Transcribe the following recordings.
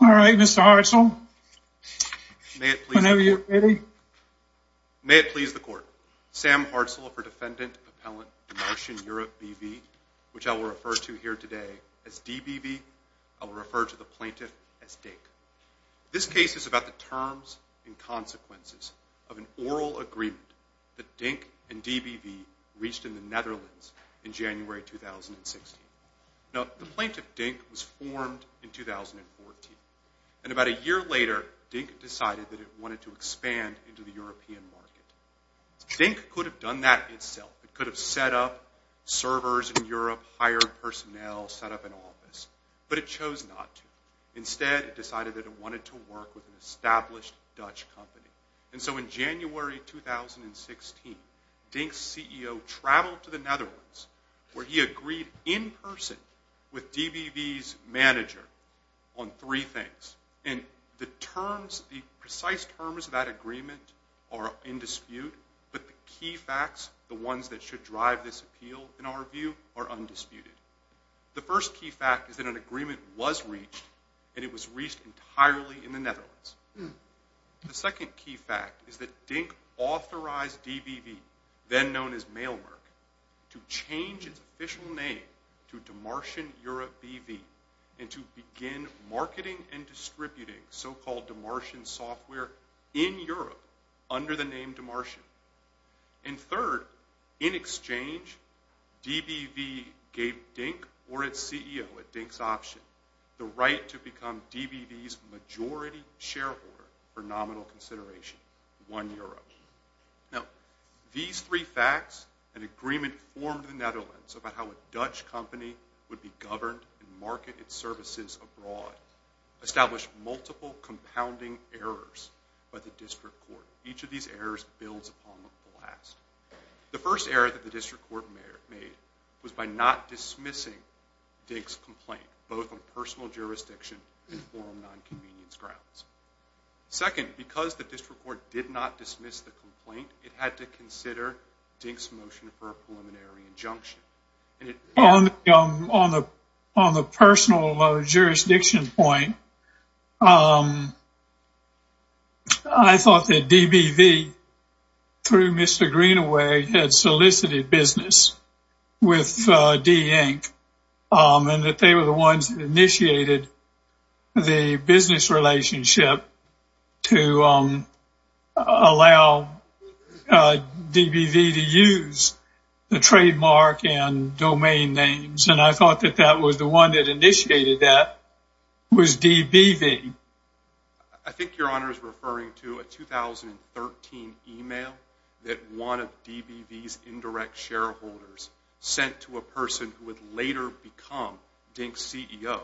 May it please the Court, Sam Hartzell for Defendant Appellant Dmarcian Europe BV, which I will refer to here today as DBV. I will refer to the plaintiff as DINK. This case is about the terms and consequences of an oral agreement that DINK and DBV reached in the Netherlands in January 2016. Now, the plaintiff, DINK, was formed in 2014. And about a year later, DINK decided that it wanted to expand into the European market. DINK could have done that itself. It could have set up servers in Europe, hired personnel, set up an office. But it chose not to. Instead, it decided that it wanted to work with an established Dutch company. And so in January 2016, DINK's CEO traveled to the Netherlands where he agreed in person with DBV's manager on three things. And the terms, the precise terms of that agreement are in dispute. But the key facts, the ones that should drive this appeal, in our view, are undisputed. The first key fact is that an agreement was reached, and it was reached entirely in the Netherlands. The second key fact is that DINK authorized DBV, then known as Mailmerk, to change its official name to Demartian Europe BV, and to begin marketing and distributing so-called Demartian software in Europe under the name Demartian. And third, in exchange, DBV gave DINK, or its CEO at DINK's option, the right to become DBV's majority shareholder for nominal consideration, 1 euro. Now, these three facts, an agreement formed in the Netherlands about how a Dutch company would be governed and market its services abroad, established multiple compounding errors by the district court. Each of these errors builds upon the last. The first error that the district court made was by not dismissing DINK's complaint, both on personal jurisdiction and forum non-convenience grounds. Second, because the district court did not dismiss the complaint, it had to consider DINK's motion for a preliminary injunction. On the personal jurisdiction point, I thought that DBV, through Mr. Greenaway, had solicited business with DINK, and that they were the ones that initiated the business relationship to allow DBV to use the trademark and domain names. And I thought that that was the one that initiated that was DBV. I think Your Honor is referring to a 2013 email that one of DBV's indirect shareholders sent to a person who would later become DINK's CEO.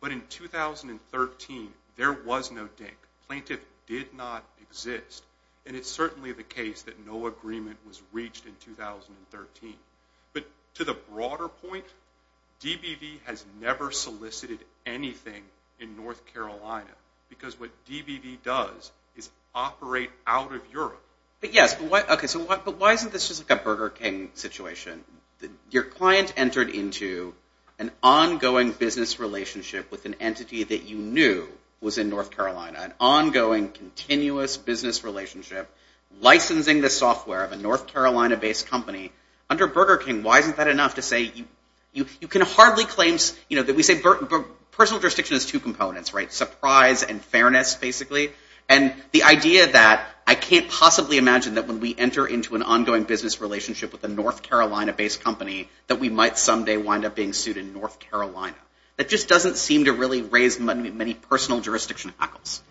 But in 2013, there was no DINK. Plaintiff did not exist. And it's certainly the case that no agreement was reached in 2013. But to the broader point, DBV has never solicited anything in North Carolina, because what DBV does is operate out of Europe. But yes, but why isn't this just like a Burger King situation? Your client entered into an ongoing business relationship with an entity that you knew was in North Carolina, an ongoing continuous business relationship, licensing the software of a North Carolina-based company. Under Burger King, why isn't that enough to say you can hardly claim that we say personal jurisdiction has two components, right? Surprise and fairness, basically. And the idea that I can't possibly imagine that when we enter into an ongoing business relationship with a North Carolina-based company that we might someday wind up being sued in North Carolina. That just doesn't seem to really raise many personal jurisdiction hackles.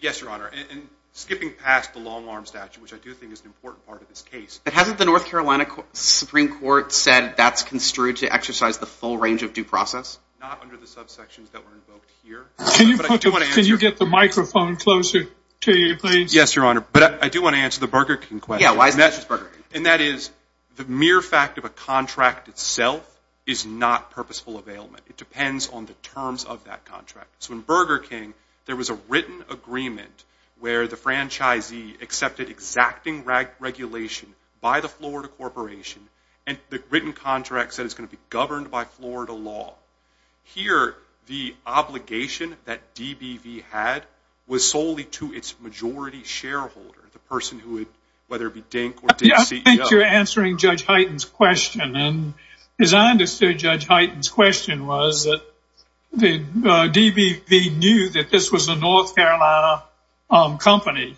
Yes, Your Honor. And skipping past the long-arm statute, which I do think is an important part of this case. But hasn't the North Carolina Supreme Court said that's construed to exercise the full range of due process? Not under the subsections that were invoked here. Can you get the microphone closer to you, please? Yes, Your Honor. But I do want to answer the Burger King question. Yeah, why is it just Burger King? And that is the mere fact of a contract itself is not purposeful availment. It depends on the terms of that contract. So in Burger King, there was a written agreement where the franchisee accepted exacting regulation by the Florida Corporation and the written contract said it's going to be governed by Florida law. Here, the obligation that DBV had was solely to its majority shareholder, the person who would, whether it be Dink or Dink CEO. I think you're answering Judge Hyten's question. And as I understood Judge Hyten's question was that DBV knew that this was a North Carolina company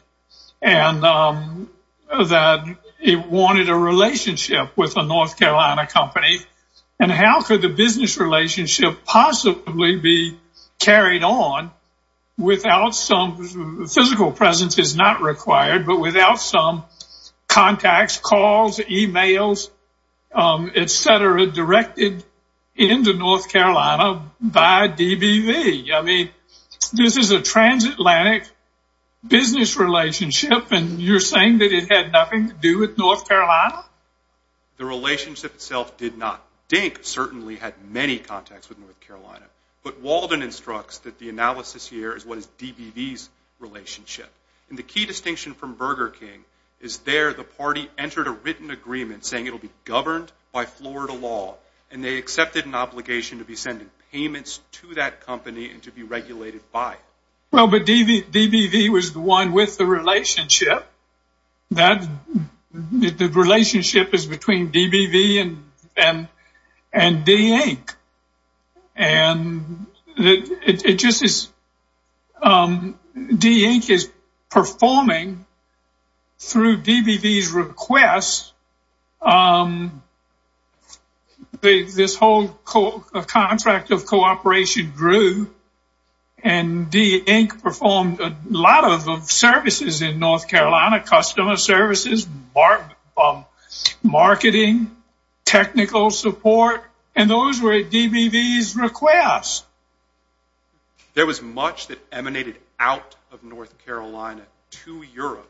and that it wanted a relationship with a North Carolina company. And how could the business relationship possibly be carried on without some, physical presence is not required, but without some contacts, calls, emails, etc. directed into North Carolina by DBV? I mean, this is a transatlantic business relationship and you're saying that it had nothing to do with North Carolina? The relationship itself did not. Dink certainly had many contacts with North Carolina, but Walden instructs that the analysis here is what is DBV's relationship. And the key distinction from Burger King is there the party entered a written agreement saying it will be governed by Florida law and they accepted an obligation to be sending payments to that company and to be regulated by it. Well, but DBV was the one with the relationship that the relationship is between DBV and Dink. And it just is. Dink is performing through DBV's request. This whole contract of cooperation grew and Dink performed a lot of services in North Carolina, customer services, marketing, technical support, and those were DBV's requests. There was much that emanated out of North Carolina to Europe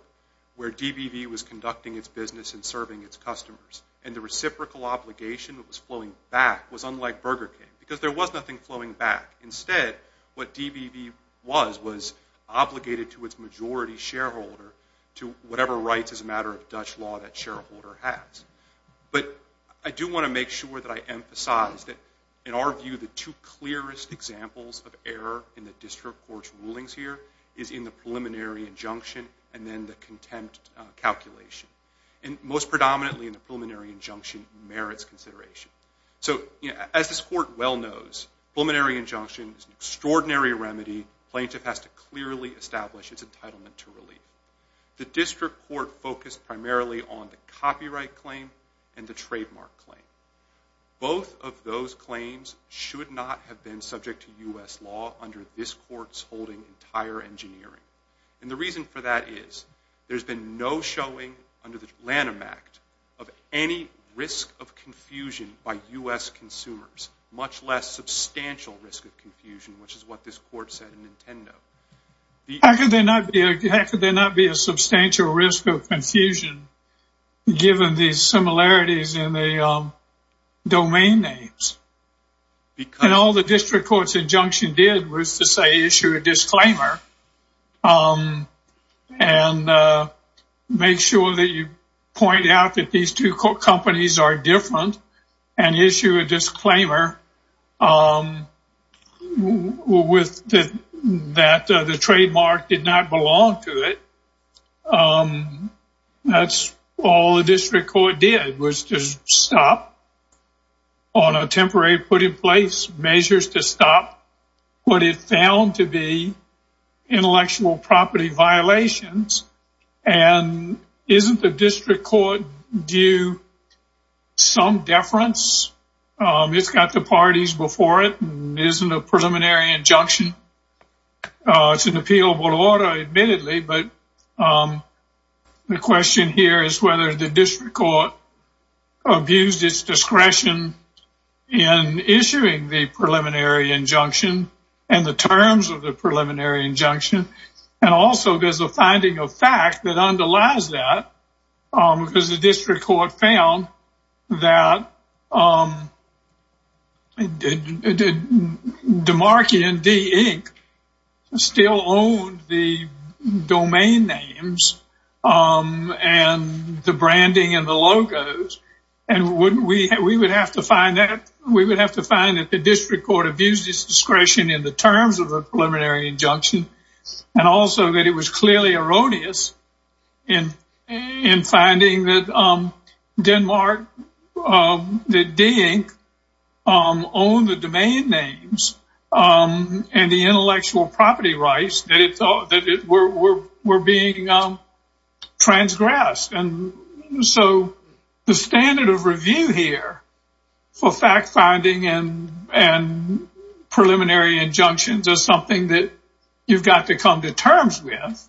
where DBV was conducting its business and serving its customers. And the reciprocal obligation that was flowing back was unlike Burger King because there was nothing flowing back. Instead, what DBV was was obligated to its majority shareholder to whatever rights as a matter of Dutch law that shareholder has. But I do want to make sure that I emphasize that in our view the two clearest examples of error in the district court's rulings here is in the preliminary injunction and then the contempt calculation. And most predominantly in the preliminary injunction merits consideration. So as this court well knows, preliminary injunction is an extraordinary remedy. Plaintiff has to clearly establish its entitlement to relief. The district court focused primarily on the copyright claim and the trademark claim. Both of those claims should not have been subject to U.S. law under this court's And the reason for that is there's been no showing under the Lanham Act of any risk of confusion by U.S. consumers, much less substantial risk of confusion, which is what this court said in Nintendo. How could there not be a substantial risk of confusion given these similarities in the domain names? And all the district court's injunction did was to say issue a disclaimer and make sure that you point out that these two companies are different and issue a disclaimer that the trademark did not belong to it. That's all the district court did was to stop on a temporary put in place measures to stop what it found to be intellectual property violations. And isn't the district court due some deference? It's got the parties before it and isn't a preliminary injunction. It's an appealable order, admittedly, but the question here is whether the district court abused its discretion in issuing the preliminary injunction and the terms of the preliminary injunction. And also there's a finding of fact that underlies that because the district court found that DiMarchi and D. Inc. still owned the domain names and the branding and the logos, and we would have to find that the district court abused its discretion in the terms of the preliminary injunction and also that it was clearly erroneous in finding that Denmark, that D. Inc. owned the domain names and the intellectual property rights that were being transgressed. And so the standard of review here for fact finding and preliminary injunctions is something that you've got to come to terms with.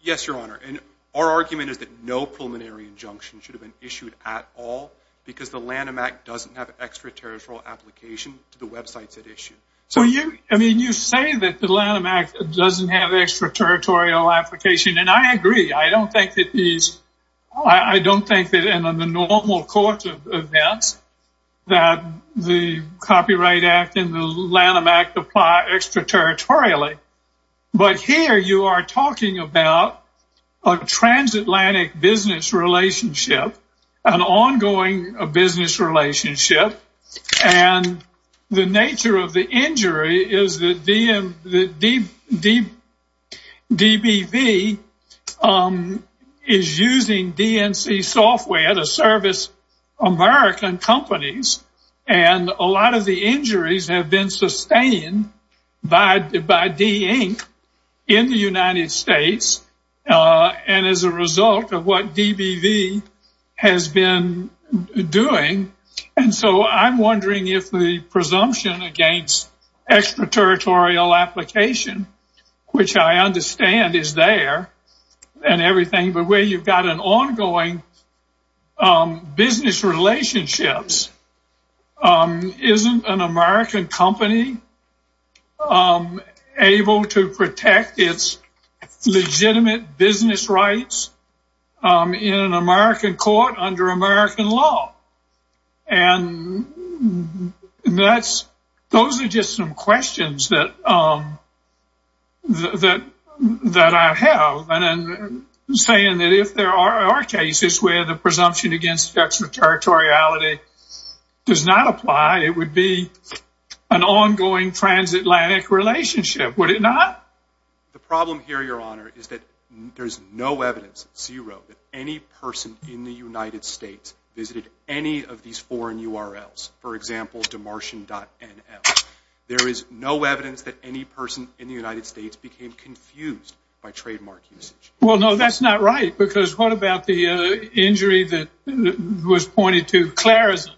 Yes, Your Honor. And our argument is that no preliminary injunction should have been issued at all because the Lanham Act doesn't have extraterritorial application to the websites it issued. So you say that the Lanham Act doesn't have extraterritorial application, and I agree. I don't think that in the normal course of events that the Copyright Act and the Lanham Act apply extraterritorially. But here you are talking about a transatlantic business relationship, an ongoing business relationship, and the nature of the injury is that DBV is using DNC software to service American companies, and a lot of the injuries have been sustained by D. Inc. in the United States and as a result of what DBV has been doing. And so I'm wondering if the presumption against extraterritorial application, which I understand is there and everything, but where you've got an ongoing business relationship, isn't an American company able to protect its legitimate business rights in an American court under American law? And those are just some questions that I have. And I'm saying that if there are cases where the presumption against extraterritoriality does not apply, it would be an ongoing transatlantic relationship, would it not? The problem here, Your Honor, is that there's no evidence, zero, that any person in the United States visited any of these foreign URLs. For example, demartian.nl. There is no evidence that any person in the United States became confused by trademark usage. Well, no, that's not right, because what about the injury that was pointed to? Clarison,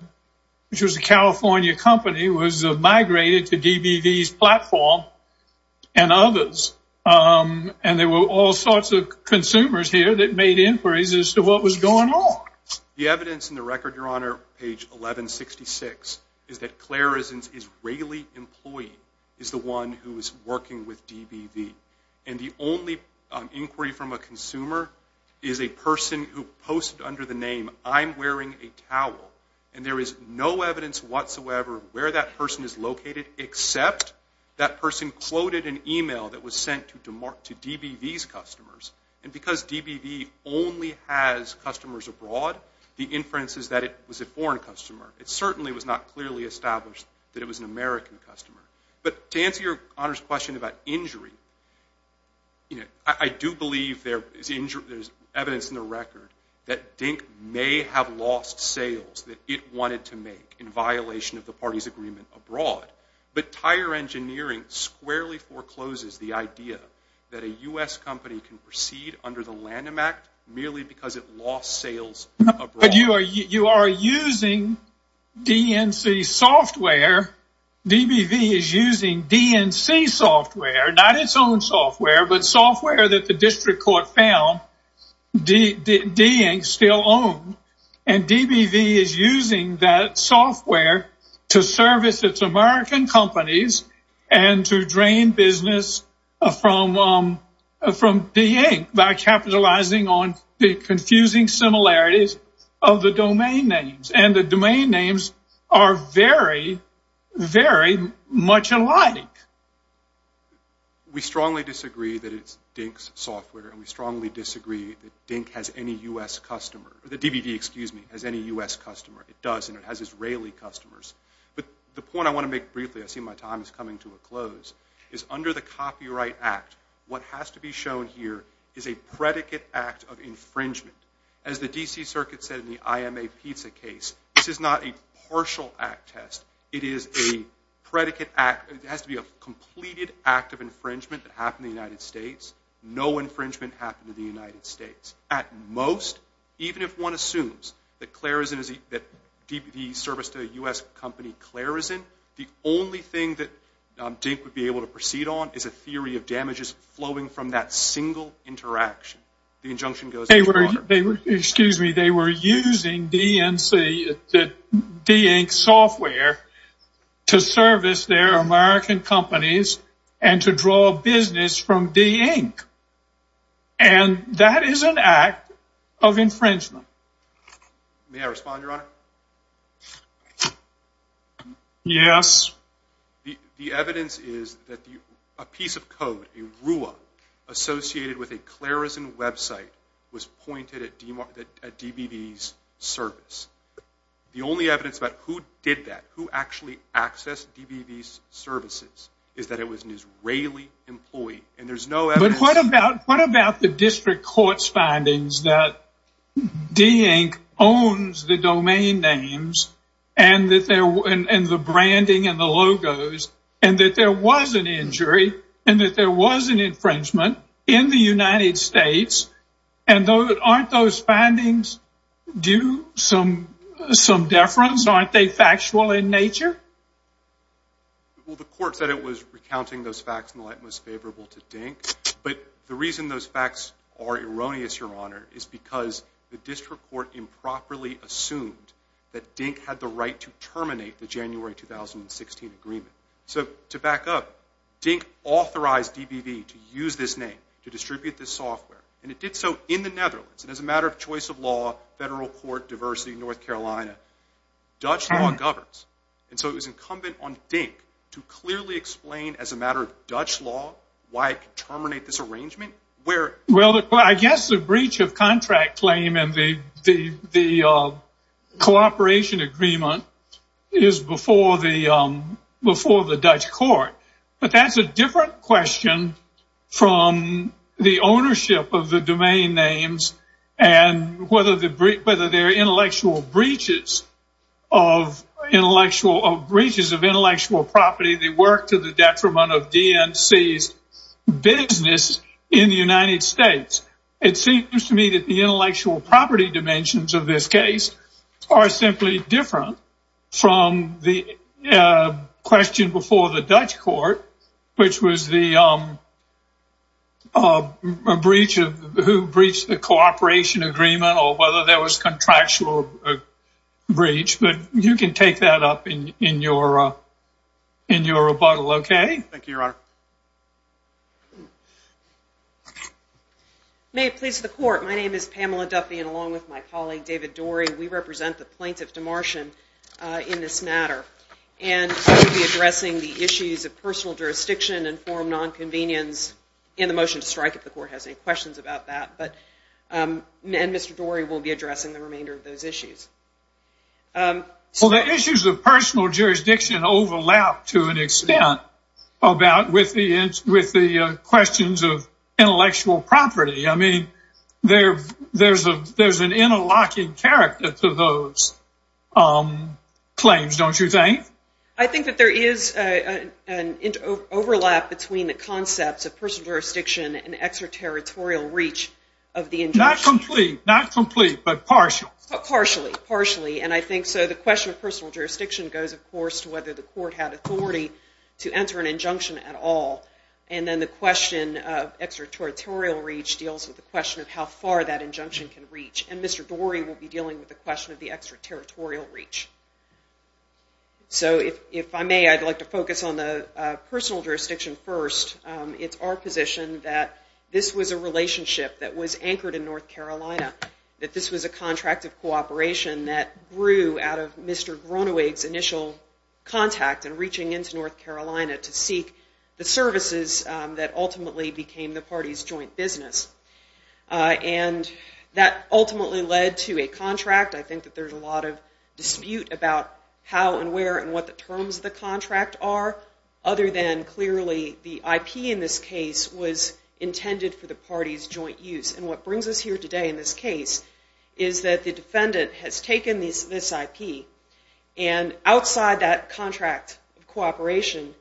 which was a California company, was migrated to DBV's platform and others, and there were all sorts of consumers here that made inquiries as to what was going on. The evidence in the record, Your Honor, page 1166, is that Clarison's Israeli employee is the one who is working with DBV. And the only inquiry from a consumer is a person who posted under the name, I'm wearing a towel, and there is no evidence whatsoever where that person is located, except that person quoted an email that was sent to DBV's customers. And because DBV only has customers abroad, the inference is that it was a foreign customer. It certainly was not clearly established that it was an American customer. But to answer Your Honor's question about injury, I do believe there is evidence in the record that Dink may have lost sales that it wanted to make in violation of the parties' agreement abroad. But tire engineering squarely forecloses the idea that a U.S. company can proceed under the Lanham Act merely because it lost sales abroad. But you are using DNC software. DBV is using DNC software, not its own software, but software that the district court found Dink still owned. And DBV is using that software to service its American companies and to drain business from DNC by capitalizing on the confusing similarities of the domain names. And the domain names are very, very much alike. We strongly disagree that it's Dink's software, and we strongly disagree that Dink has any U.S. customer. The DBV, excuse me, has any U.S. customer. It does, and it has Israeli customers. But the point I want to make briefly, I see my time is coming to a close, is under the Copyright Act, what has to be shown here is a predicate act of infringement. As the D.C. Circuit said in the I.M.A. pizza case, this is not a partial act test. It is a predicate act. It has to be a completed act of infringement that happened in the United States. No infringement happened in the United States. At most, even if one assumes that DBV serviced a U.S. company Clarison, the only thing that Dink would be able to proceed on is a theory of damages flowing from that single interaction. The injunction goes underwater. They were using DNC, the Dink software, to service their American companies and to draw business from Dink, and that is an act of infringement. May I respond, Your Honor? Yes. The evidence is that a piece of code, a RUA, associated with a Clarison website, was pointed at DBV's service. The only evidence about who did that, who actually accessed DBV's services, is that it was an Israeli employee, and there's no evidence. But what about the district court's findings that Dink owns the domain names and the branding and the logos, and that there was an injury and that there was an infringement in the United States, and aren't those findings due some deference? Aren't they factual in nature? Well, the court said it was recounting those facts in the light most favorable to Dink, but the reason those facts are erroneous, Your Honor, is because the district court improperly assumed that Dink had the right to terminate the January 2016 agreement. So to back up, Dink authorized DBV to use this name to distribute this software, and it did so in the Netherlands, and as a matter of choice of law, federal court, diversity, North Carolina, Dutch law governs. And so it was incumbent on Dink to clearly explain as a matter of Dutch law why it could terminate this arrangement. Well, I guess the breach of contract claim and the cooperation agreement is before the Dutch court, but that's a different question from the ownership of the domain names and whether there are intellectual breaches of intellectual property, the work to the detriment of DNC's business in the United States. It seems to me that the intellectual property dimensions of this case are simply different from the question before the Dutch court, which was who breached the cooperation agreement or whether there was contractual breach, but you can take that up in your rebuttal, okay? Thank you, Your Honor. May it please the court, my name is Pamela Duffy, and along with my colleague David Dorey, we represent the plaintiff Demartian in this matter, and we'll be addressing the issues of personal jurisdiction and form nonconvenience in the motion to strike if the court has any questions about that, and Mr. Dorey will be addressing the remainder of those issues. Well, the issues of personal jurisdiction overlap to an extent with the questions of intellectual property. I mean, there's an interlocking character to those claims, don't you think? I think that there is an overlap between the concepts of personal jurisdiction and extraterritorial reach of the injunction. Not complete, not complete, but partial. Partially, partially, and I think so. The question of personal jurisdiction goes, of course, to whether the court had authority to enter an injunction at all, and then the question of extraterritorial reach deals with the question of how far that injunction can reach, and Mr. Dorey will be dealing with the question of the extraterritorial reach. So if I may, I'd like to focus on the personal jurisdiction first. It's our position that this was a relationship that was anchored in North Carolina, that this was a contract of cooperation that grew out of Mr. Grunewig's initial contact in reaching into North Carolina to seek the services that ultimately became the party's joint business. And that ultimately led to a contract. I think that there's a lot of dispute about how and where and what the terms of the contract are, other than clearly the IP in this case was intended for the party's joint use. And what brings us here today in this case is that the defendant has taken this IP and outside that contract of cooperation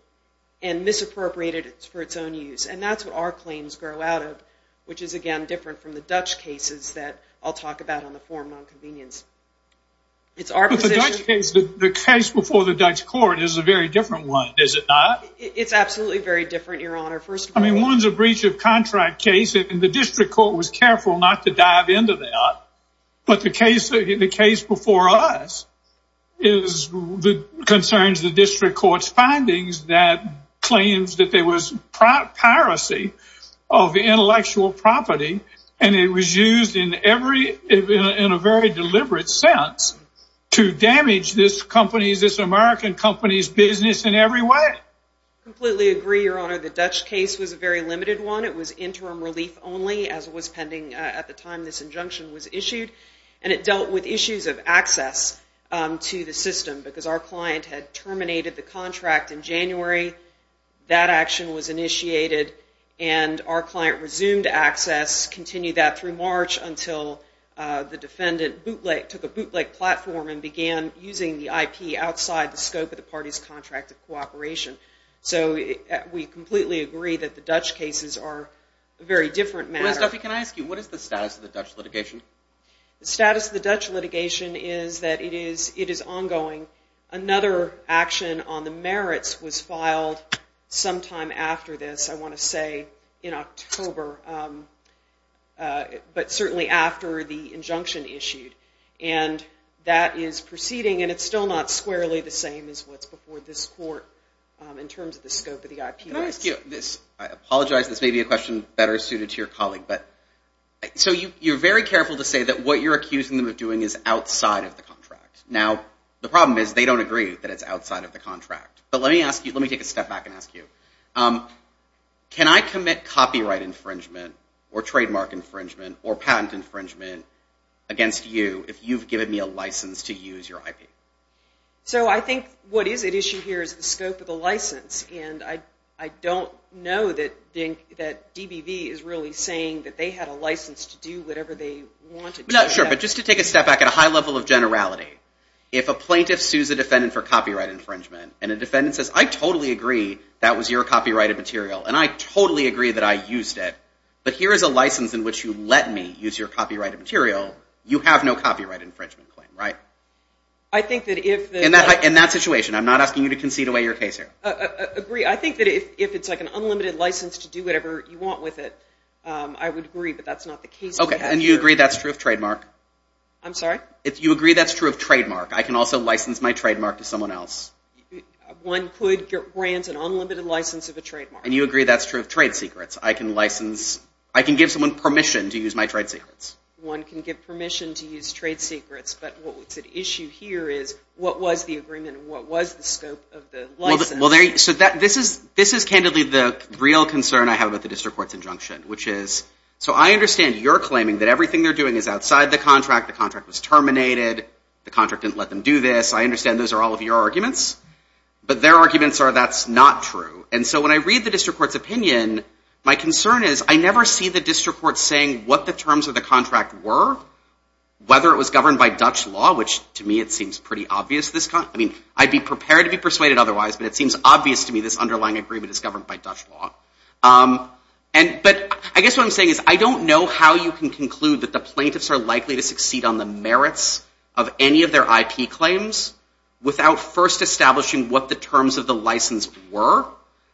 and misappropriated it for its own use. And that's what our claims grow out of, which is, again, different from the Dutch cases that I'll talk about on the forum on convenience. But the Dutch case, the case before the Dutch court, is a very different one, is it not? It's absolutely very different, Your Honor. I mean, one's a breach of contract case, and the district court was careful not to dive into that. But the case before us concerns the district court's findings that claims that there was piracy of intellectual property, and it was used in a very deliberate sense to damage this American company's business in every way. I completely agree, Your Honor. The Dutch case was a very limited one. It was interim relief only, as was pending at the time this injunction was issued. And it dealt with issues of access to the system, because our client had terminated the contract in January. That action was initiated, and our client resumed access, continued that through March until the defendant took a bootleg platform and began using the IP outside the scope of the party's contract of cooperation. So we completely agree that the Dutch cases are a very different matter. Well, Stuffy, can I ask you, what is the status of the Dutch litigation? The status of the Dutch litigation is that it is ongoing. Another action on the merits was filed sometime after this, I want to say in October, but certainly after the injunction issued. And that is proceeding, and it's still not squarely the same as what's before this court in terms of the scope of the IPS. Can I ask you this? I apologize, this may be a question better suited to your colleague. So you're very careful to say that what you're accusing them of doing is outside of the contract. Now, the problem is they don't agree that it's outside of the contract. But let me take a step back and ask you, can I commit copyright infringement or trademark infringement or patent infringement against you if you've given me a license to use your IP? So I think what is at issue here is the scope of the license, and I don't know that DBV is really saying that they had a license to do whatever they wanted to do. Sure, but just to take a step back at a high level of generality, if a plaintiff sues a defendant for copyright infringement and a defendant says, I totally agree that was your copyrighted material and I totally agree that I used it, but here is a license in which you let me use your copyrighted material, you have no copyright infringement claim, right? In that situation, I'm not asking you to concede away your case here. I agree. I think that if it's like an unlimited license to do whatever you want with it, I would agree, but that's not the case. Okay, and you agree that's true of trademark? I'm sorry? You agree that's true of trademark? I can also license my trademark to someone else? One could grant an unlimited license of a trademark. And you agree that's true of trade secrets? I can license, I can give someone permission to use my trade secrets. One can give permission to use trade secrets, but what's at issue here is what was the agreement and what was the scope of the license? Well, so this is candidly the real concern I have about the district court's injunction, which is so I understand your claiming that everything they're doing is outside the contract, the contract was terminated, the contract didn't let them do this. I understand those are all of your arguments, but their arguments are that's not true. And so when I read the district court's opinion, my concern is I never see the district court saying what the terms of the contract were, whether it was governed by Dutch law, which to me it seems pretty obvious. I mean, I'd be prepared to be persuaded otherwise, but it seems obvious to me this underlying agreement is governed by Dutch law. But I guess what I'm saying is I don't know how you can conclude that the plaintiffs are likely to succeed on the merits of any of their IP claims without first establishing what the terms of the license were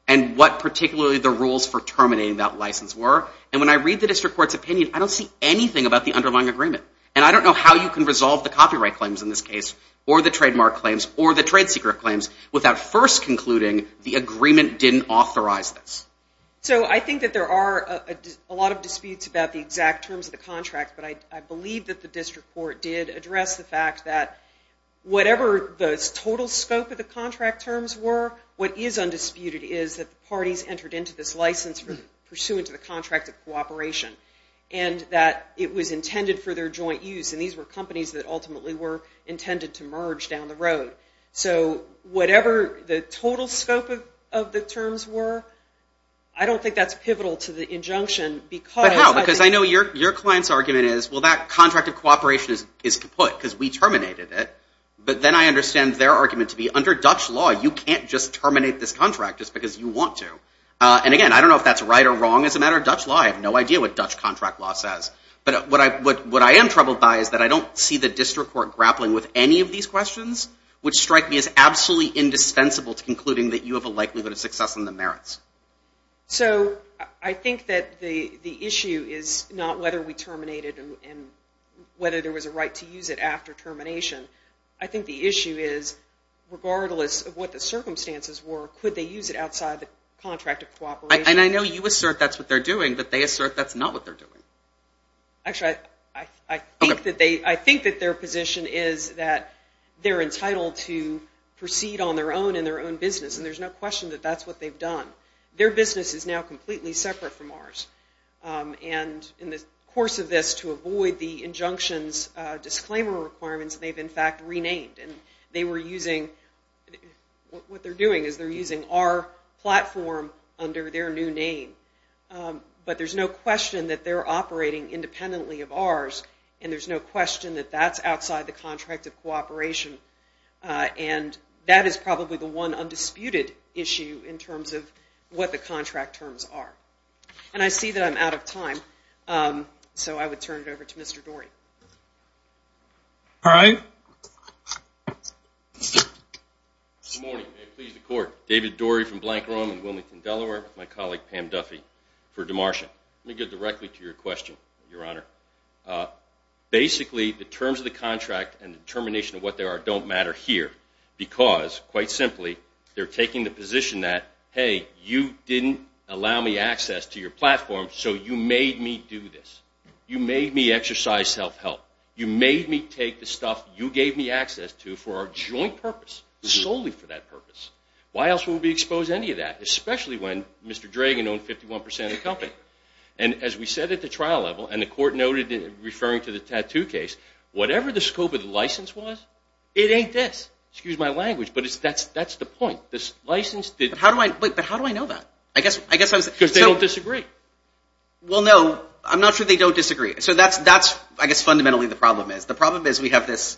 and what particularly the rules for terminating that license were. And when I read the district court's opinion, I don't see anything about the underlying agreement. And I don't know how you can resolve the copyright claims in this case or the trademark claims or the trade secret claims without first concluding the agreement didn't authorize this. So I think that there are a lot of disputes about the exact terms of the contract, but I believe that the district court did address the fact that whatever the total scope of the contract terms were, what is undisputed is that the parties entered into this license pursuant to the contract of cooperation and that it was intended for their joint use. And these were companies that ultimately were intended to merge down the road. So whatever the total scope of the terms were, I don't think that's pivotal to the injunction. But how? Because I know your client's argument is, well, that contract of cooperation is kaput because we terminated it. But then I understand their argument to be, under Dutch law, you can't just terminate this contract just because you want to. And again, I don't know if that's right or wrong as a matter of Dutch law. I have no idea what Dutch contract law says. But what I am troubled by is that I don't see the district court grappling with any of these questions, which strike me as absolutely indispensable to concluding that you have a likelihood of success in the merits. So I think that the issue is not whether we terminated it and whether there was a right to use it after termination. I think the issue is, regardless of what the circumstances were, could they use it outside the contract of cooperation? And I know you assert that's what they're doing, but they assert that's not what they're doing. Actually, I think that their position is that they're entitled to proceed on their own in their own business, and there's no question that that's what they've done. Their business is now completely separate from ours. And in the course of this, to avoid the injunction's disclaimer requirements, they've, in fact, renamed. And what they're doing is they're using our platform under their new name. But there's no question that they're operating independently of ours, and there's no question that that's outside the contract of cooperation. And that is probably the one undisputed issue in terms of what the contract terms are. And I see that I'm out of time, so I would turn it over to Mr. Dorey. All right. Good morning, and may it please the Court. David Dorey from Blank Room in Wilmington, Delaware, with my colleague Pam Duffy for Demartian. Let me get directly to your question, Your Honor. Basically, the terms of the contract and the determination of what they are don't matter here because, quite simply, they're taking the position that, hey, you didn't allow me access to your platform, so you made me do this. You made me exercise self-help. You made me take the stuff you gave me access to for our joint purpose, solely for that purpose. Why else would we expose any of that, especially when Mr. Dragan owned 51% of the company? And as we said at the trial level, and the Court noted in referring to the tattoo case, whatever the scope of the license was, it ain't this. Excuse my language, but that's the point. But how do I know that? Because they don't disagree. Well, no, I'm not sure they don't disagree. So that's, I guess, fundamentally the problem is. We have this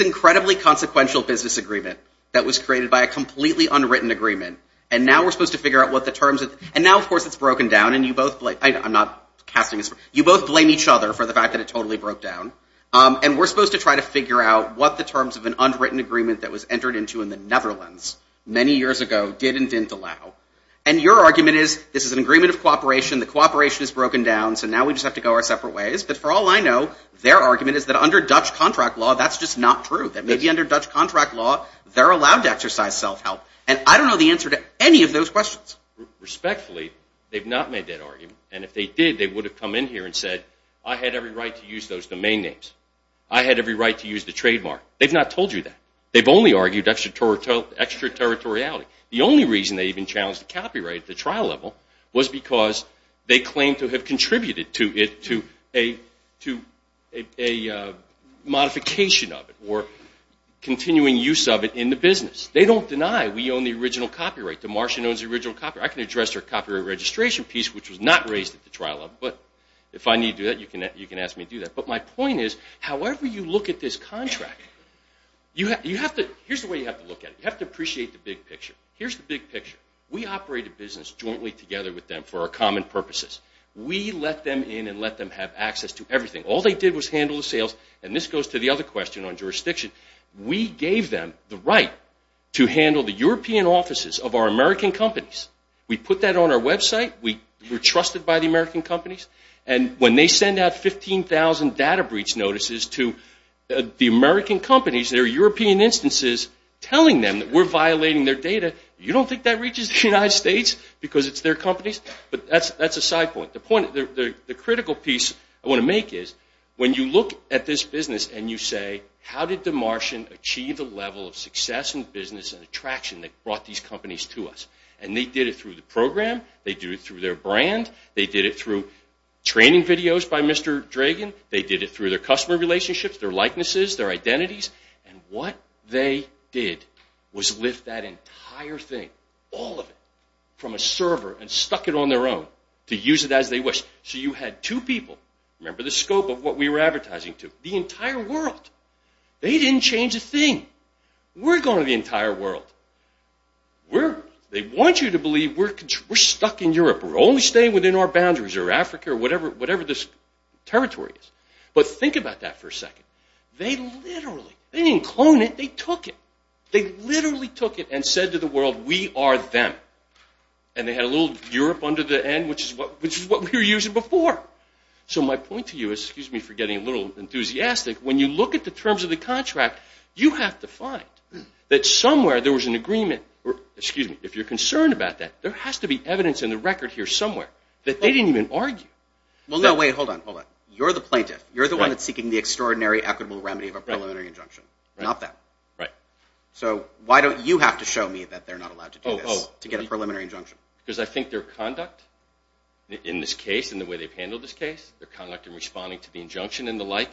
incredibly consequential business agreement that was created by a completely unwritten agreement, and now we're supposed to figure out what the terms of... And now, of course, it's broken down, and you both blame... I'm not casting this... You both blame each other for the fact that it totally broke down, and we're supposed to try to figure out what the terms of an unwritten agreement that was entered into in the Netherlands many years ago did and didn't allow. And your argument is, this is an agreement of cooperation, the cooperation is broken down, so now we just have to go our separate ways. But for all I know, their argument is that under Dutch contract law, that's just not true. That maybe under Dutch contract law, they're allowed to exercise self-help. And I don't know the answer to any of those questions. Respectfully, they've not made that argument. And if they did, they would have come in here and said, I had every right to use those domain names. I had every right to use the trademark. They've not told you that. They've only argued extraterritoriality. The only reason they even challenged the copyright at the trial level was because they claimed to have contributed to a modification of it or continuing use of it in the business. They don't deny we own the original copyright. Demartian owns the original copyright. I can address their copyright registration piece, which was not raised at the trial level. But if I need to do that, you can ask me to do that. But my point is, however you look at this contract, here's the way you have to look at it. You have to appreciate the big picture. Here's the big picture. We operate a business jointly together with them for our common purposes. We let them in and let them have access to everything. All they did was handle the sales. And this goes to the other question on jurisdiction. We gave them the right to handle the European offices of our American companies. We put that on our website. We were trusted by the American companies. And when they send out 15,000 data breach notices to the American companies, their European instances, telling them that we're violating their data, you don't think that reaches the United States because it's their companies? But that's a side point. The critical piece I want to make is, when you look at this business and you say, how did Demartian achieve the level of success and business and attraction that brought these companies to us? And they did it through the program. They did it through their brand. They did it through training videos by Mr. Dragan. They did it through their customer relationships, their likenesses, their identities. And what they did was lift that entire thing, all of it, from a server and stuck it on their own to use it as they wish. So you had two people, remember the scope of what we were advertising to, the entire world. They didn't change a thing. We're going to the entire world. They want you to believe we're stuck in Europe. We're only staying within our boundaries or Africa or whatever this territory is. But think about that for a second. They literally, they didn't clone it, they took it. They literally took it and said to the world, we are them. And they had a little Europe under the end, which is what we were using before. So my point to you is, excuse me for getting a little enthusiastic, when you look at the terms of the contract, you have to find that somewhere there was an agreement, excuse me, if you're concerned about that, there has to be evidence in the record here somewhere that they didn't even argue. Well, no, wait, hold on, hold on. You're the plaintiff. You're the one that's seeking the extraordinary equitable remedy of a preliminary injunction. Not them. Right. So why don't you have to show me that they're not allowed to do this to get a preliminary injunction? Because I think their conduct in this case and the way they've handled this case, their conduct in responding to the injunction and the like,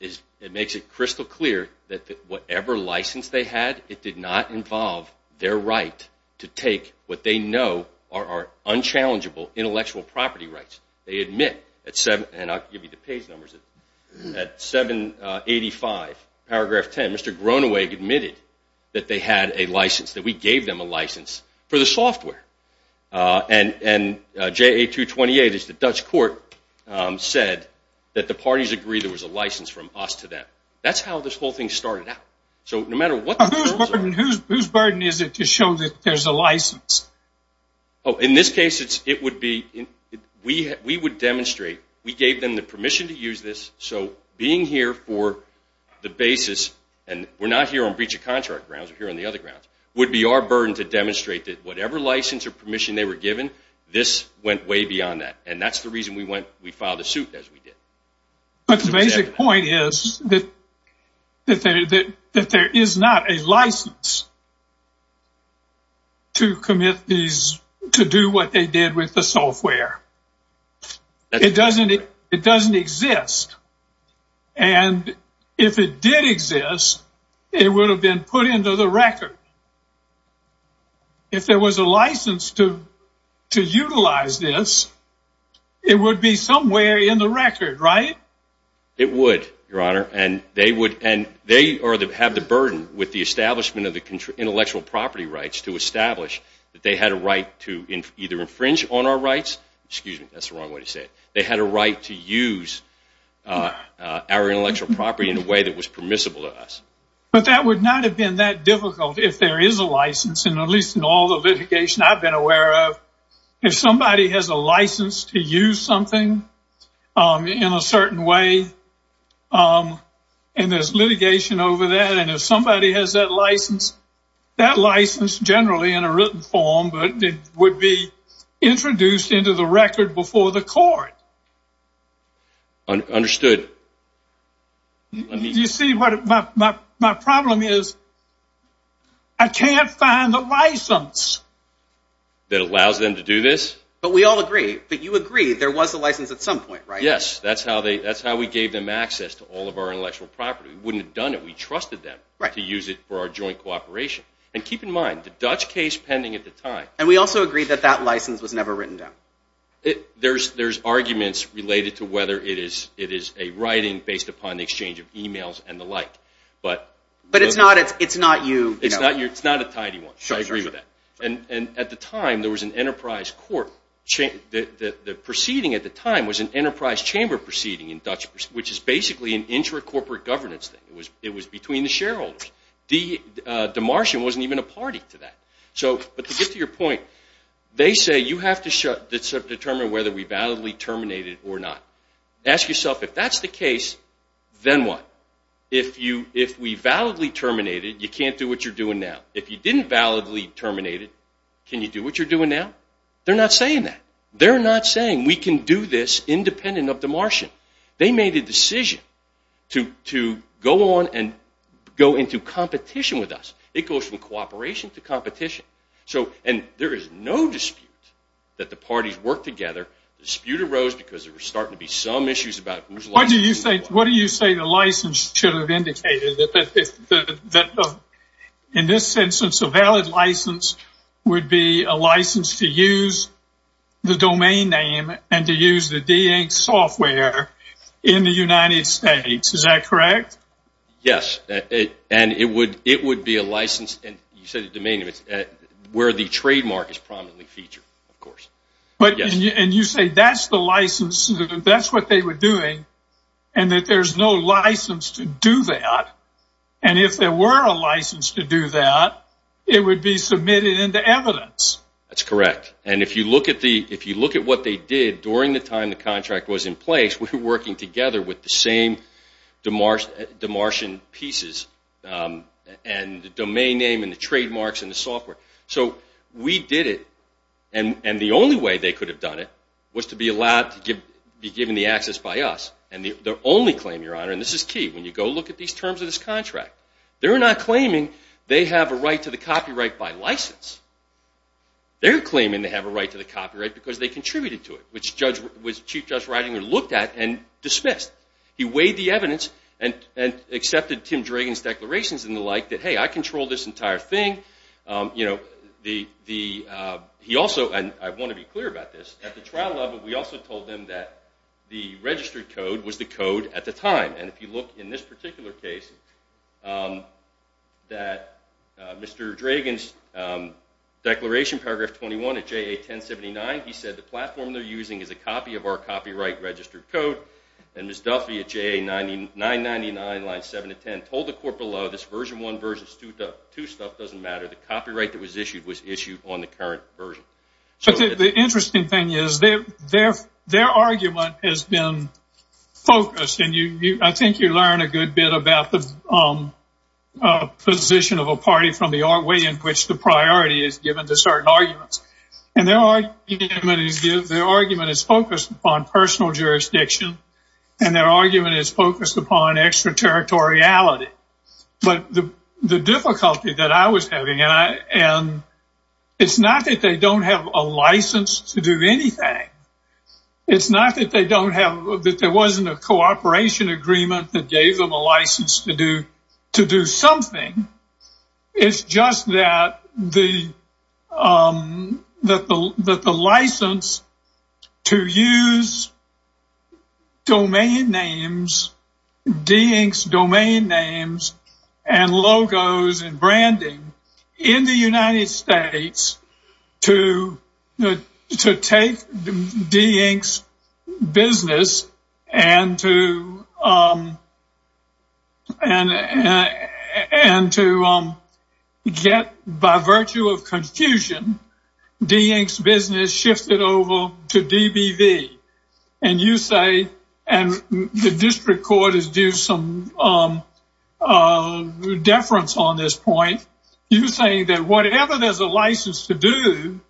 it makes it crystal clear that whatever license they had, it did not involve their right to take what they know are unchallengeable intellectual property rights. They admit, and I'll give you the page numbers, at 785, paragraph 10, Mr. Groeneweg admitted that they had a license, that we gave them a license for the software. And JA228 is the Dutch court said that the parties agree there was a license from us to them. That's how this whole thing started out. So no matter what the terms are. Oh, in this case it would be, we would demonstrate, we gave them the permission to use this, so being here for the basis, and we're not here on breach of contract grounds, we're here on the other grounds, would be our burden to demonstrate that whatever license or permission they were given, this went way beyond that. And that's the reason we filed a suit as we did. But the basic point is that there is not a license to commit these, to do what they did with the software. It doesn't exist. And if it did exist, it would have been put into the record. If there was a license to utilize this, it would be somewhere in the record, right? It would, Your Honor. And they would, and they have the burden with the establishment of the intellectual property rights to establish that they had a right to either infringe on our rights, excuse me, that's the wrong way to say it, they had a right to use our intellectual property in a way that was permissible to us. But that would not have been that difficult if there is a license, and at least in all the litigation I've been aware of, if somebody has a license to use something in a certain way, and there's litigation over that, and if somebody has that license, that license generally in a written form, but it would be introduced into the record before the court. Understood. Do you see what my problem is? I can't find the license that allows them to do this. But we all agree, but you agree there was a license at some point, right? Yes, that's how we gave them access to all of our intellectual property. We wouldn't have done it if we trusted them to use it for our joint cooperation. And keep in mind, the Dutch case pending at the time... And we also agree that that license was never written down. There's arguments related to whether it is a writing based upon the exchange of e-mails and the like. But it's not you... It's not a tidy one. I agree with that. And at the time, there was an enterprise court. The proceeding at the time was an enterprise chamber proceeding in Dutch, which is basically an intra-corporate governance thing. It was between the shareholders. Demartian wasn't even a party to that. But to get to your point, they say you have to determine whether we validly terminated or not. Ask yourself, if that's the case, then what? If we validly terminated, you can't do what you're doing now. If you didn't validly terminate it, can you do what you're doing now? They're not saying that. They're not saying we can do this independent of Demartian. They made a decision to go on and go into competition with us. It goes from cooperation to competition. And there is no dispute that the parties work together. The dispute arose because there were starting to be some issues about whose license... What do you say the license should have indicated? In this instance, a valid license would be a license to use the domain name and to use the D-Inc. software in the United States. Is that correct? Yes. And it would be a license, you said the domain name, where the trademark is prominently featured, of course. And you say that's the license, that's what they were doing, and that there's no license to do that. And if there were a license to do that, it would be submitted into evidence. That's correct. And if you look at what they did during the time the contract was in place, we were working together with the same Demartian pieces and the domain name and the trademarks and the software. So we did it, and the only way they could have done it was to be allowed to be given the access by us. And the only claim, Your Honor, and this is key, when you go look at these terms of this contract, they're not claiming they have a right to the copyright by license. They're claiming they have a right to the copyright because they contributed to it, which Chief Judge Reitinger looked at and dismissed. He weighed the evidence and accepted Tim Dragan's declarations and the like, that, hey, I control this entire thing. He also, and I want to be clear about this, at the trial level, we also told them that the registered code was the code at the time. And if you look in this particular case, that Mr. Dragan's declaration, paragraph 21 of JA 1079, he said the platform they're using is a copy of our copyright registered code. And Ms. Duffy at JA 999, lines 7 to 10, told the court below, this version 1 versus 2 stuff doesn't matter. The copyright that was issued was issued on the current version. But the interesting thing is their argument has been focused, and I think you learn a good bit about the position of a party from the way in which the priority is given to certain arguments. And their argument is focused upon personal jurisdiction, and their argument is focused upon extraterritoriality. But the difficulty that I was having, and it's not that they don't have a license to do anything. It's not that they don't have, that there wasn't a cooperation agreement that gave them a license to do something. It's just that the license to use domain names, de-inks domain names and logos and branding in the United States, to take de-inks business and to get, by virtue of confusion, de-inks business shifted over to DBV. And you say, and the district court is due some deference on this point. You're saying that whatever there's a license to do,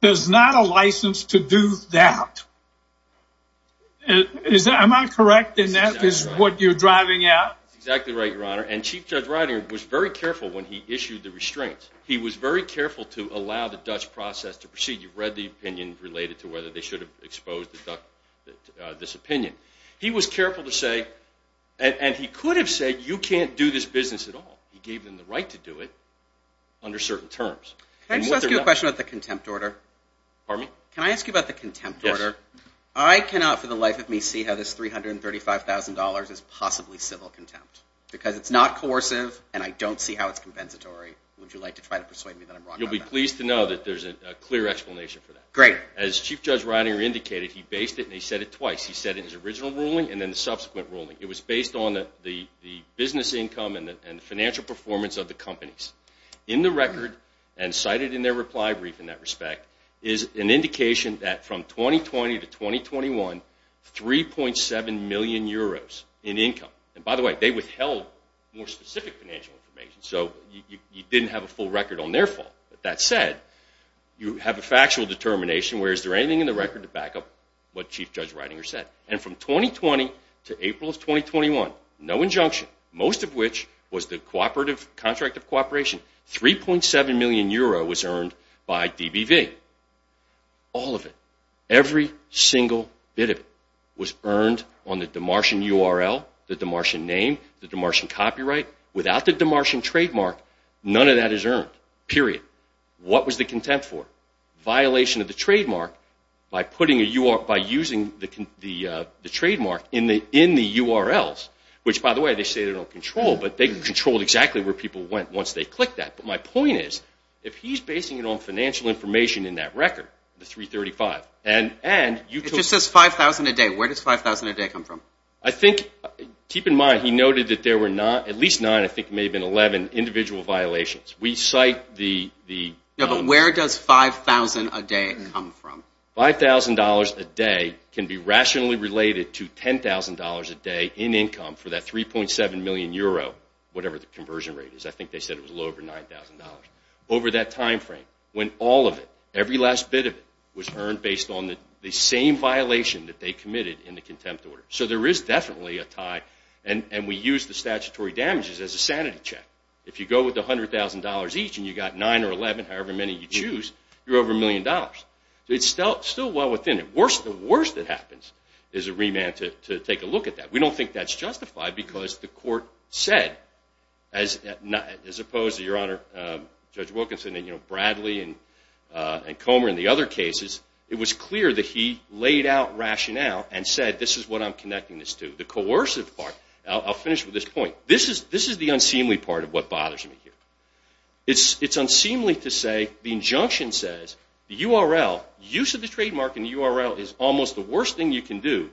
there's not a license to do that. Am I correct in that, is what you're driving at? That's exactly right, Your Honor. And Chief Judge Reitinger was very careful when he issued the restraints. He was very careful to allow the Dutch process to proceed. You've read the opinion related to whether they should have exposed this opinion. He was careful to say, and he could have said you can't do this business at all. He gave them the right to do it under certain terms. Can I just ask you a question about the contempt order? Pardon me? Can I ask you about the contempt order? Yes. I cannot for the life of me see how this $335,000 is possibly civil contempt. Because it's not coercive and I don't see how it's compensatory. Would you like to try to persuade me that I'm wrong about that? You'll be pleased to know that there's a clear explanation for that. Great. As Chief Judge Reitinger indicated, he based it and he said it twice. He said it in his original ruling and then the subsequent ruling. It was based on the business income and the financial performance of the companies. In the record, and cited in their reply brief in that respect, is an indication that from 2020 to 2021, 3.7 million euros in income. And by the way, they withheld more specific financial information. So you didn't have a full record on their fault. That said, you have a factual determination where is there anything in the record to back up what Chief Judge Reitinger said. And from 2020 to April of 2021, no injunction. Most of which was the contract of cooperation. 3.7 million euros was earned by DBV. All of it. Every single bit of it was earned on the Demartian URL, the Demartian name, the Demartian copyright. Without the Demartian trademark, none of that is earned. Period. What was the contempt for? Violation of the trademark by using the trademark in the URLs. Which, by the way, they say they don't control, but they controlled exactly where people went once they clicked that. But my point is, if he's basing it on financial information in that record, the 335, and you took... It just says 5,000 a day. Where does 5,000 a day come from? I think, keep in mind, he noted that there were at least nine, I think it may have been 11, individual violations. We cite the... But where does 5,000 a day come from? $5,000 a day can be rationally related to $10,000 a day in income for that 3.7 million euro, whatever the conversion rate is. I think they said it was a little over $9,000. Over that time frame, when all of it, every last bit of it, was earned based on the same violation that they committed in the contempt order. So there is definitely a tie, and we use the statutory damages as a sanity check. If you go with $100,000 each and you got 9 or 11, however many you choose, you're over a million dollars. It's still well within it. The worst that happens is a remand to take a look at that. We don't think that's justified because the court said, as opposed to, Your Honor, Judge Wilkinson and Bradley and Comer and the other cases, it was clear that he laid out rationale and said, this is what I'm connecting this to. The coercive part, I'll finish with this point. This is the unseemly part of what bothers me here. It's unseemly to say the injunction says the URL, use of the trademark in the URL, is almost the worst thing you can do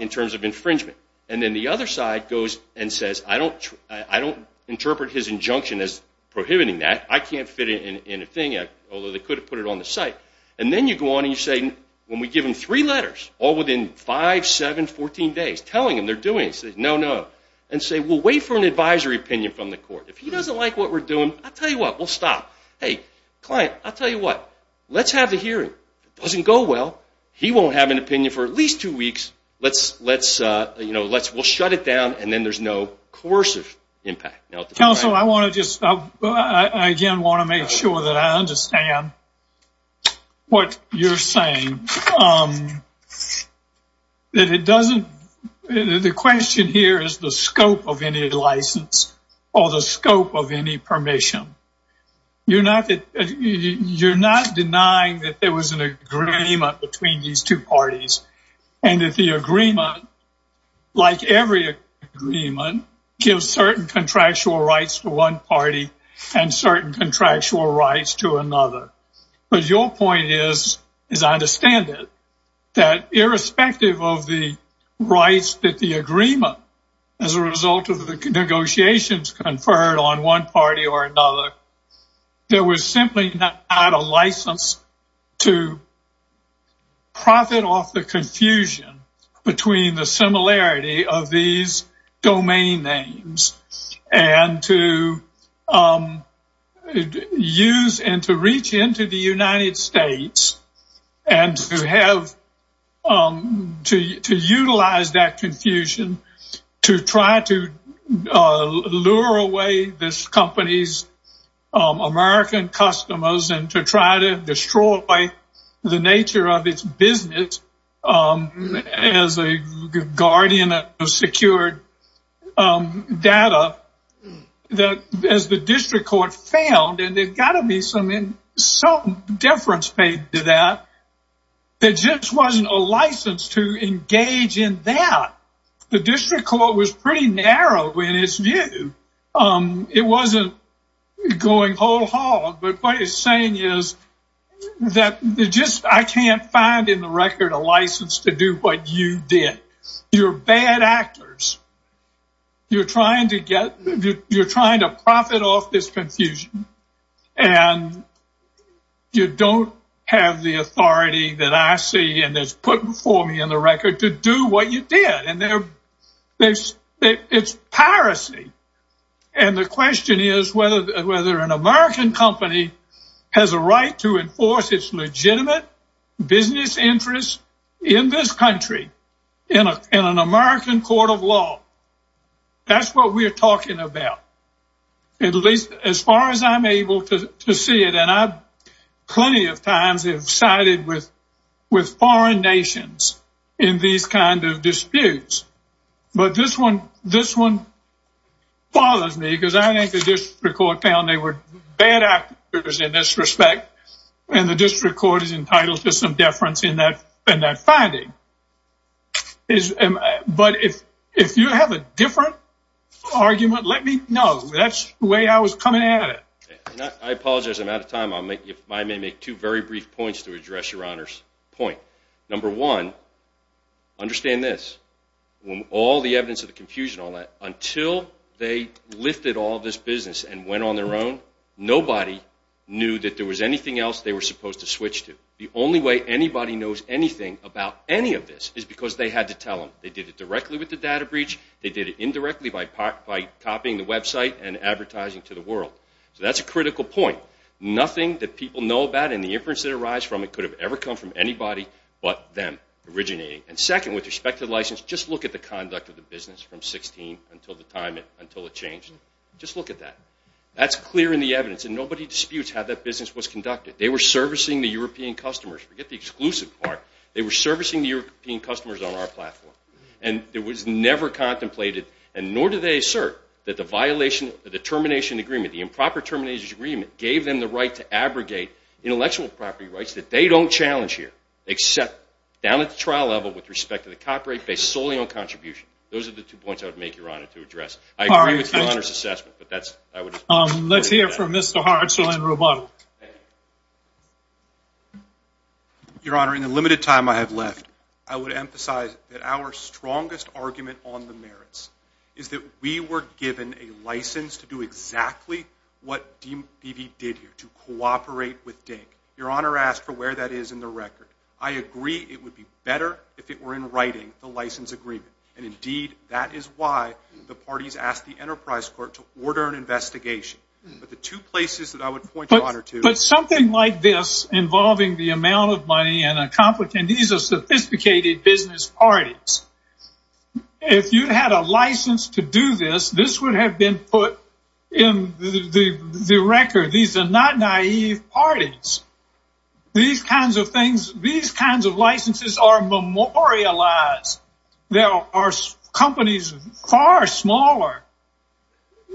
in terms of infringement. And then the other side goes and says, I don't interpret his injunction as prohibiting that. I can't fit it in a thing, although they could have put it on the site. And then you go on and you say, when we give him three letters, all within five, seven, 14 days, telling him they're doing it, he says, no, no, and say, we'll wait for an advisory opinion from the court. If he doesn't like what we're doing, I'll tell you what, we'll stop. Hey, client, I'll tell you what, let's have the hearing. If it doesn't go well, he won't have an opinion for at least two weeks. We'll shut it down, and then there's no coercive impact. Counsel, I want to just, again, want to make sure that I understand what you're saying. That it doesn't, the question here is the scope of any license or the scope of any permission. You're not denying that there was an agreement between these two parties and that the agreement, like every agreement, gives certain contractual rights to one party and certain contractual rights to another. But your point is, as I understand it, that irrespective of the rights that the agreement, as a result of the negotiations conferred on one party or another, there was simply not a license to profit off the confusion between the similarity of these domain names and to use and to reach into the United States and to utilize that confusion to try to lure away this company's American customers and to try to destroy the nature of its business as a guardian of secured data. As the district court found, and there's got to be some deference paid to that, there just wasn't a license to engage in that. The district court was pretty narrow in its view. It wasn't going whole hog, but what it's saying is that I can't find in the record a license to do what you did. You're bad actors. You're trying to profit off this confusion and you don't have the authority that I see and that's put before me in the record to do what you did. It's piracy and the question is whether an American company has a right to enforce its legitimate business interests in this country in an American court of law. That's what we're talking about. As far as I'm able to see it, and I plenty of times have sided with foreign nations in these kind of disputes, but this one bothers me because I think the district court found they were bad actors in this respect and the district court is entitled to some deference in that finding. But if you have a different argument, let me know. That's the way I was coming at it. I apologize, I'm out of time. If I may make two very brief points to address Your Honor's point. Number one, understand this. All the evidence of the confusion and all that, until they lifted all this business and went on their own, nobody knew that there was anything else they were supposed to switch to. The only way anybody knows anything about any of this is because they had to tell them. They did it directly with the data breach. They did it indirectly by copying the website and advertising to the world. So that's a critical point. Nothing that people know about and the inference that it arise from could have ever come from anybody but them originating. And second, with respect to the license, just look at the conduct of the business from 16 until the time it changed. Just look at that. That's clear in the evidence and nobody disputes how that business was conducted. They were servicing the European customers. Forget the exclusive part. They were servicing the European customers on our platform. And it was never contemplated, and nor do they assert that the violation of the termination agreement, the improper termination agreement, gave them the right to abrogate intellectual property rights that they don't challenge here, except down at the trial level with respect to the copyright-based solely on contribution. Those are the two points I would make, Your Honor, to address. I agree with Your Honor's assessment. Let's hear from Mr. Hartzell and Roboto. Your Honor, in the limited time I have left, I would emphasize that our strongest argument on the merits is that we were given a license to do exactly what DB did here, to cooperate with Dink. Your Honor asked for where that is in the record. I agree it would be better if it were in writing, the license agreement. And, indeed, that is why the parties asked the Enterprise Court to order an investigation. But the two places that I would point Your Honor to. But something like this involving the amount of money and these are sophisticated business parties. If you had a license to do this, this would have been put in the record. These are not naive parties. These kinds of things, these kinds of licenses are memorialized. They are companies far smaller.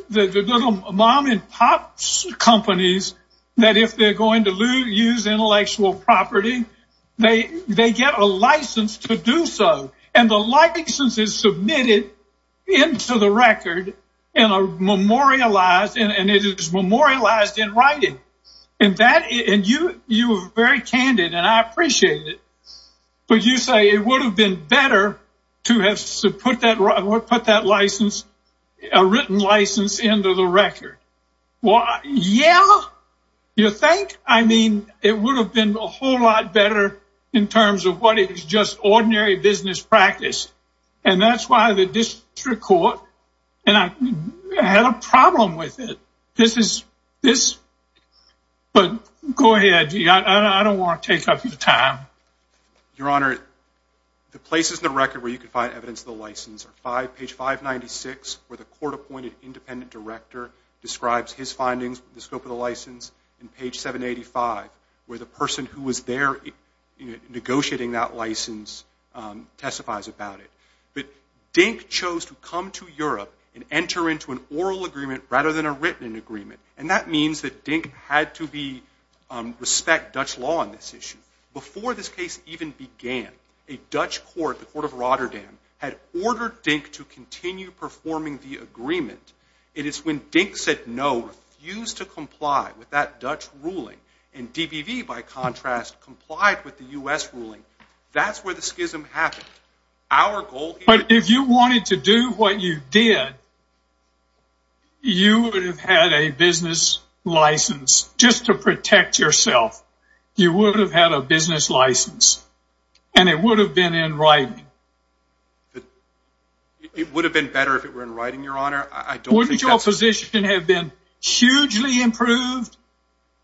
The little mom-and-pop companies, that if they're going to use intellectual property, they get a license to do so. And the license is submitted into the record and it is memorialized in writing. And you were very candid, and I appreciate it. But you say it would have been better to have put that written license into the record. Well, yeah, you think? I mean, it would have been a whole lot better in terms of what is just ordinary business practice. And that's why the district court had a problem with it. But go ahead. I don't want to take up your time. Your Honor, the places in the record where you can find evidence of the license are page 596, where the court-appointed independent director describes his findings, the scope of the license, and page 785, where the person who was there negotiating that license testifies about it. But Dink chose to come to Europe and enter into an oral agreement rather than a written agreement. And that means that Dink had to respect Dutch law on this issue. Before this case even began, a Dutch court, the court of Rotterdam, had ordered Dink to continue performing the agreement. It is when Dink said no, refused to comply with that Dutch ruling, and DBV, by contrast, complied with the U.S. ruling, that's where the schism happened. But if you wanted to do what you did, you would have had a business license just to protect yourself. You would have had a business license, and it would have been in writing. It would have been better if it were in writing, Your Honor. Wouldn't your position have been hugely improved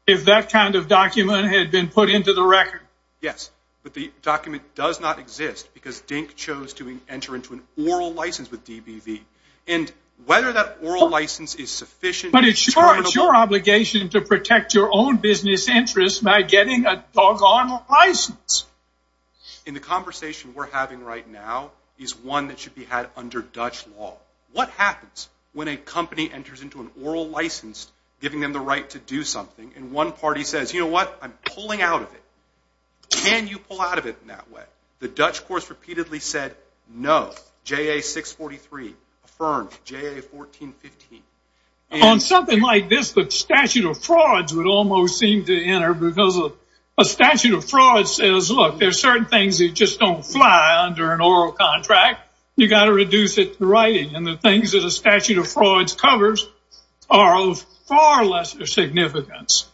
if that kind of document had been put into the record? Yes, but the document does not exist because Dink chose to enter into an oral license with DBV. And whether that oral license is sufficient... But it's your obligation to protect your own business interests by getting a doggone license. And the conversation we're having right now is one that should be had under Dutch law. What happens when a company enters into an oral license, giving them the right to do something, and one party says, you know what, I'm pulling out of it. Can you pull out of it in that way? The Dutch courts repeatedly said no. JA 643 affirmed. JA 1415. On something like this, the statute of frauds would almost seem to enter because a statute of frauds says, look, there are certain things that just don't fly under an oral contract. You've got to reduce it to writing. And the things that a statute of frauds covers are of far lesser significance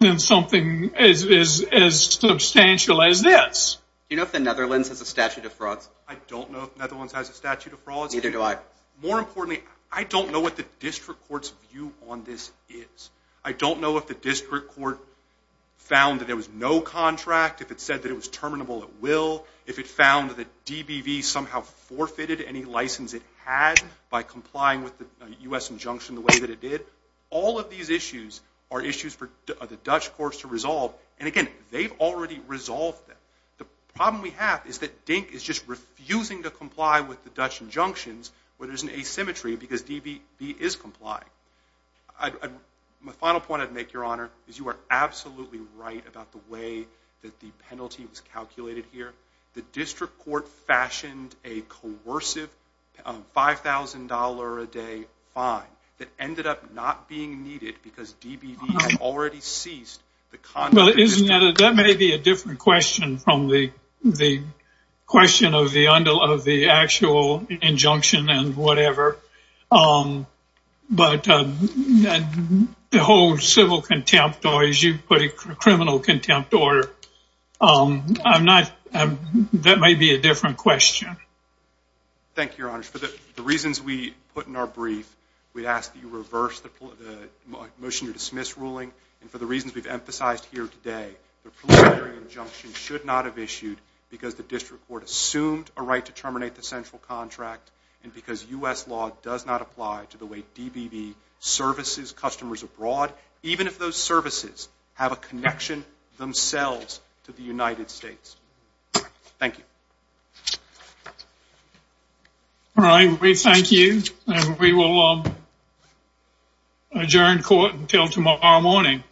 than something as substantial as this. Do you know if the Netherlands has a statute of frauds? I don't know if the Netherlands has a statute of frauds. Neither do I. More importantly, I don't know what the district court's view on this is. I don't know if the district court found that there was no contract, if it said that it was terminable at will, if it found that DBV somehow forfeited any license it had by complying with the U.S. injunction the way that it did. All of these issues are issues for the Dutch courts to resolve. And again, they've already resolved them. The problem we have is that DINK is just refusing to comply with the Dutch injunctions where there's an asymmetry because DBV is complying. My final point I'd make, Your Honor, is you are absolutely right about the way that the penalty was calculated here. The district court fashioned a coercive $5,000-a-day fine that ended up not being needed because DBV had already ceased the contract. Well, that may be a different question from the question of the actual injunction and whatever. But the whole civil contempt, or as you put it, criminal contempt order, that may be a different question. Thank you, Your Honor. For the reasons we put in our brief, we ask that you reverse the motion to dismiss ruling. And for the reasons we've emphasized here today, the preliminary injunction should not have issued because the district court assumed a right to terminate the central contract and because U.S. law does not apply to the way DBV services customers abroad, even if those services have a connection themselves to the United States. Thank you. All right, we thank you. And we will adjourn court until tomorrow morning.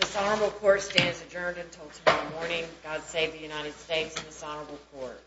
Dishonorable Court stands adjourned until tomorrow morning. God save the United States and dishonorable court.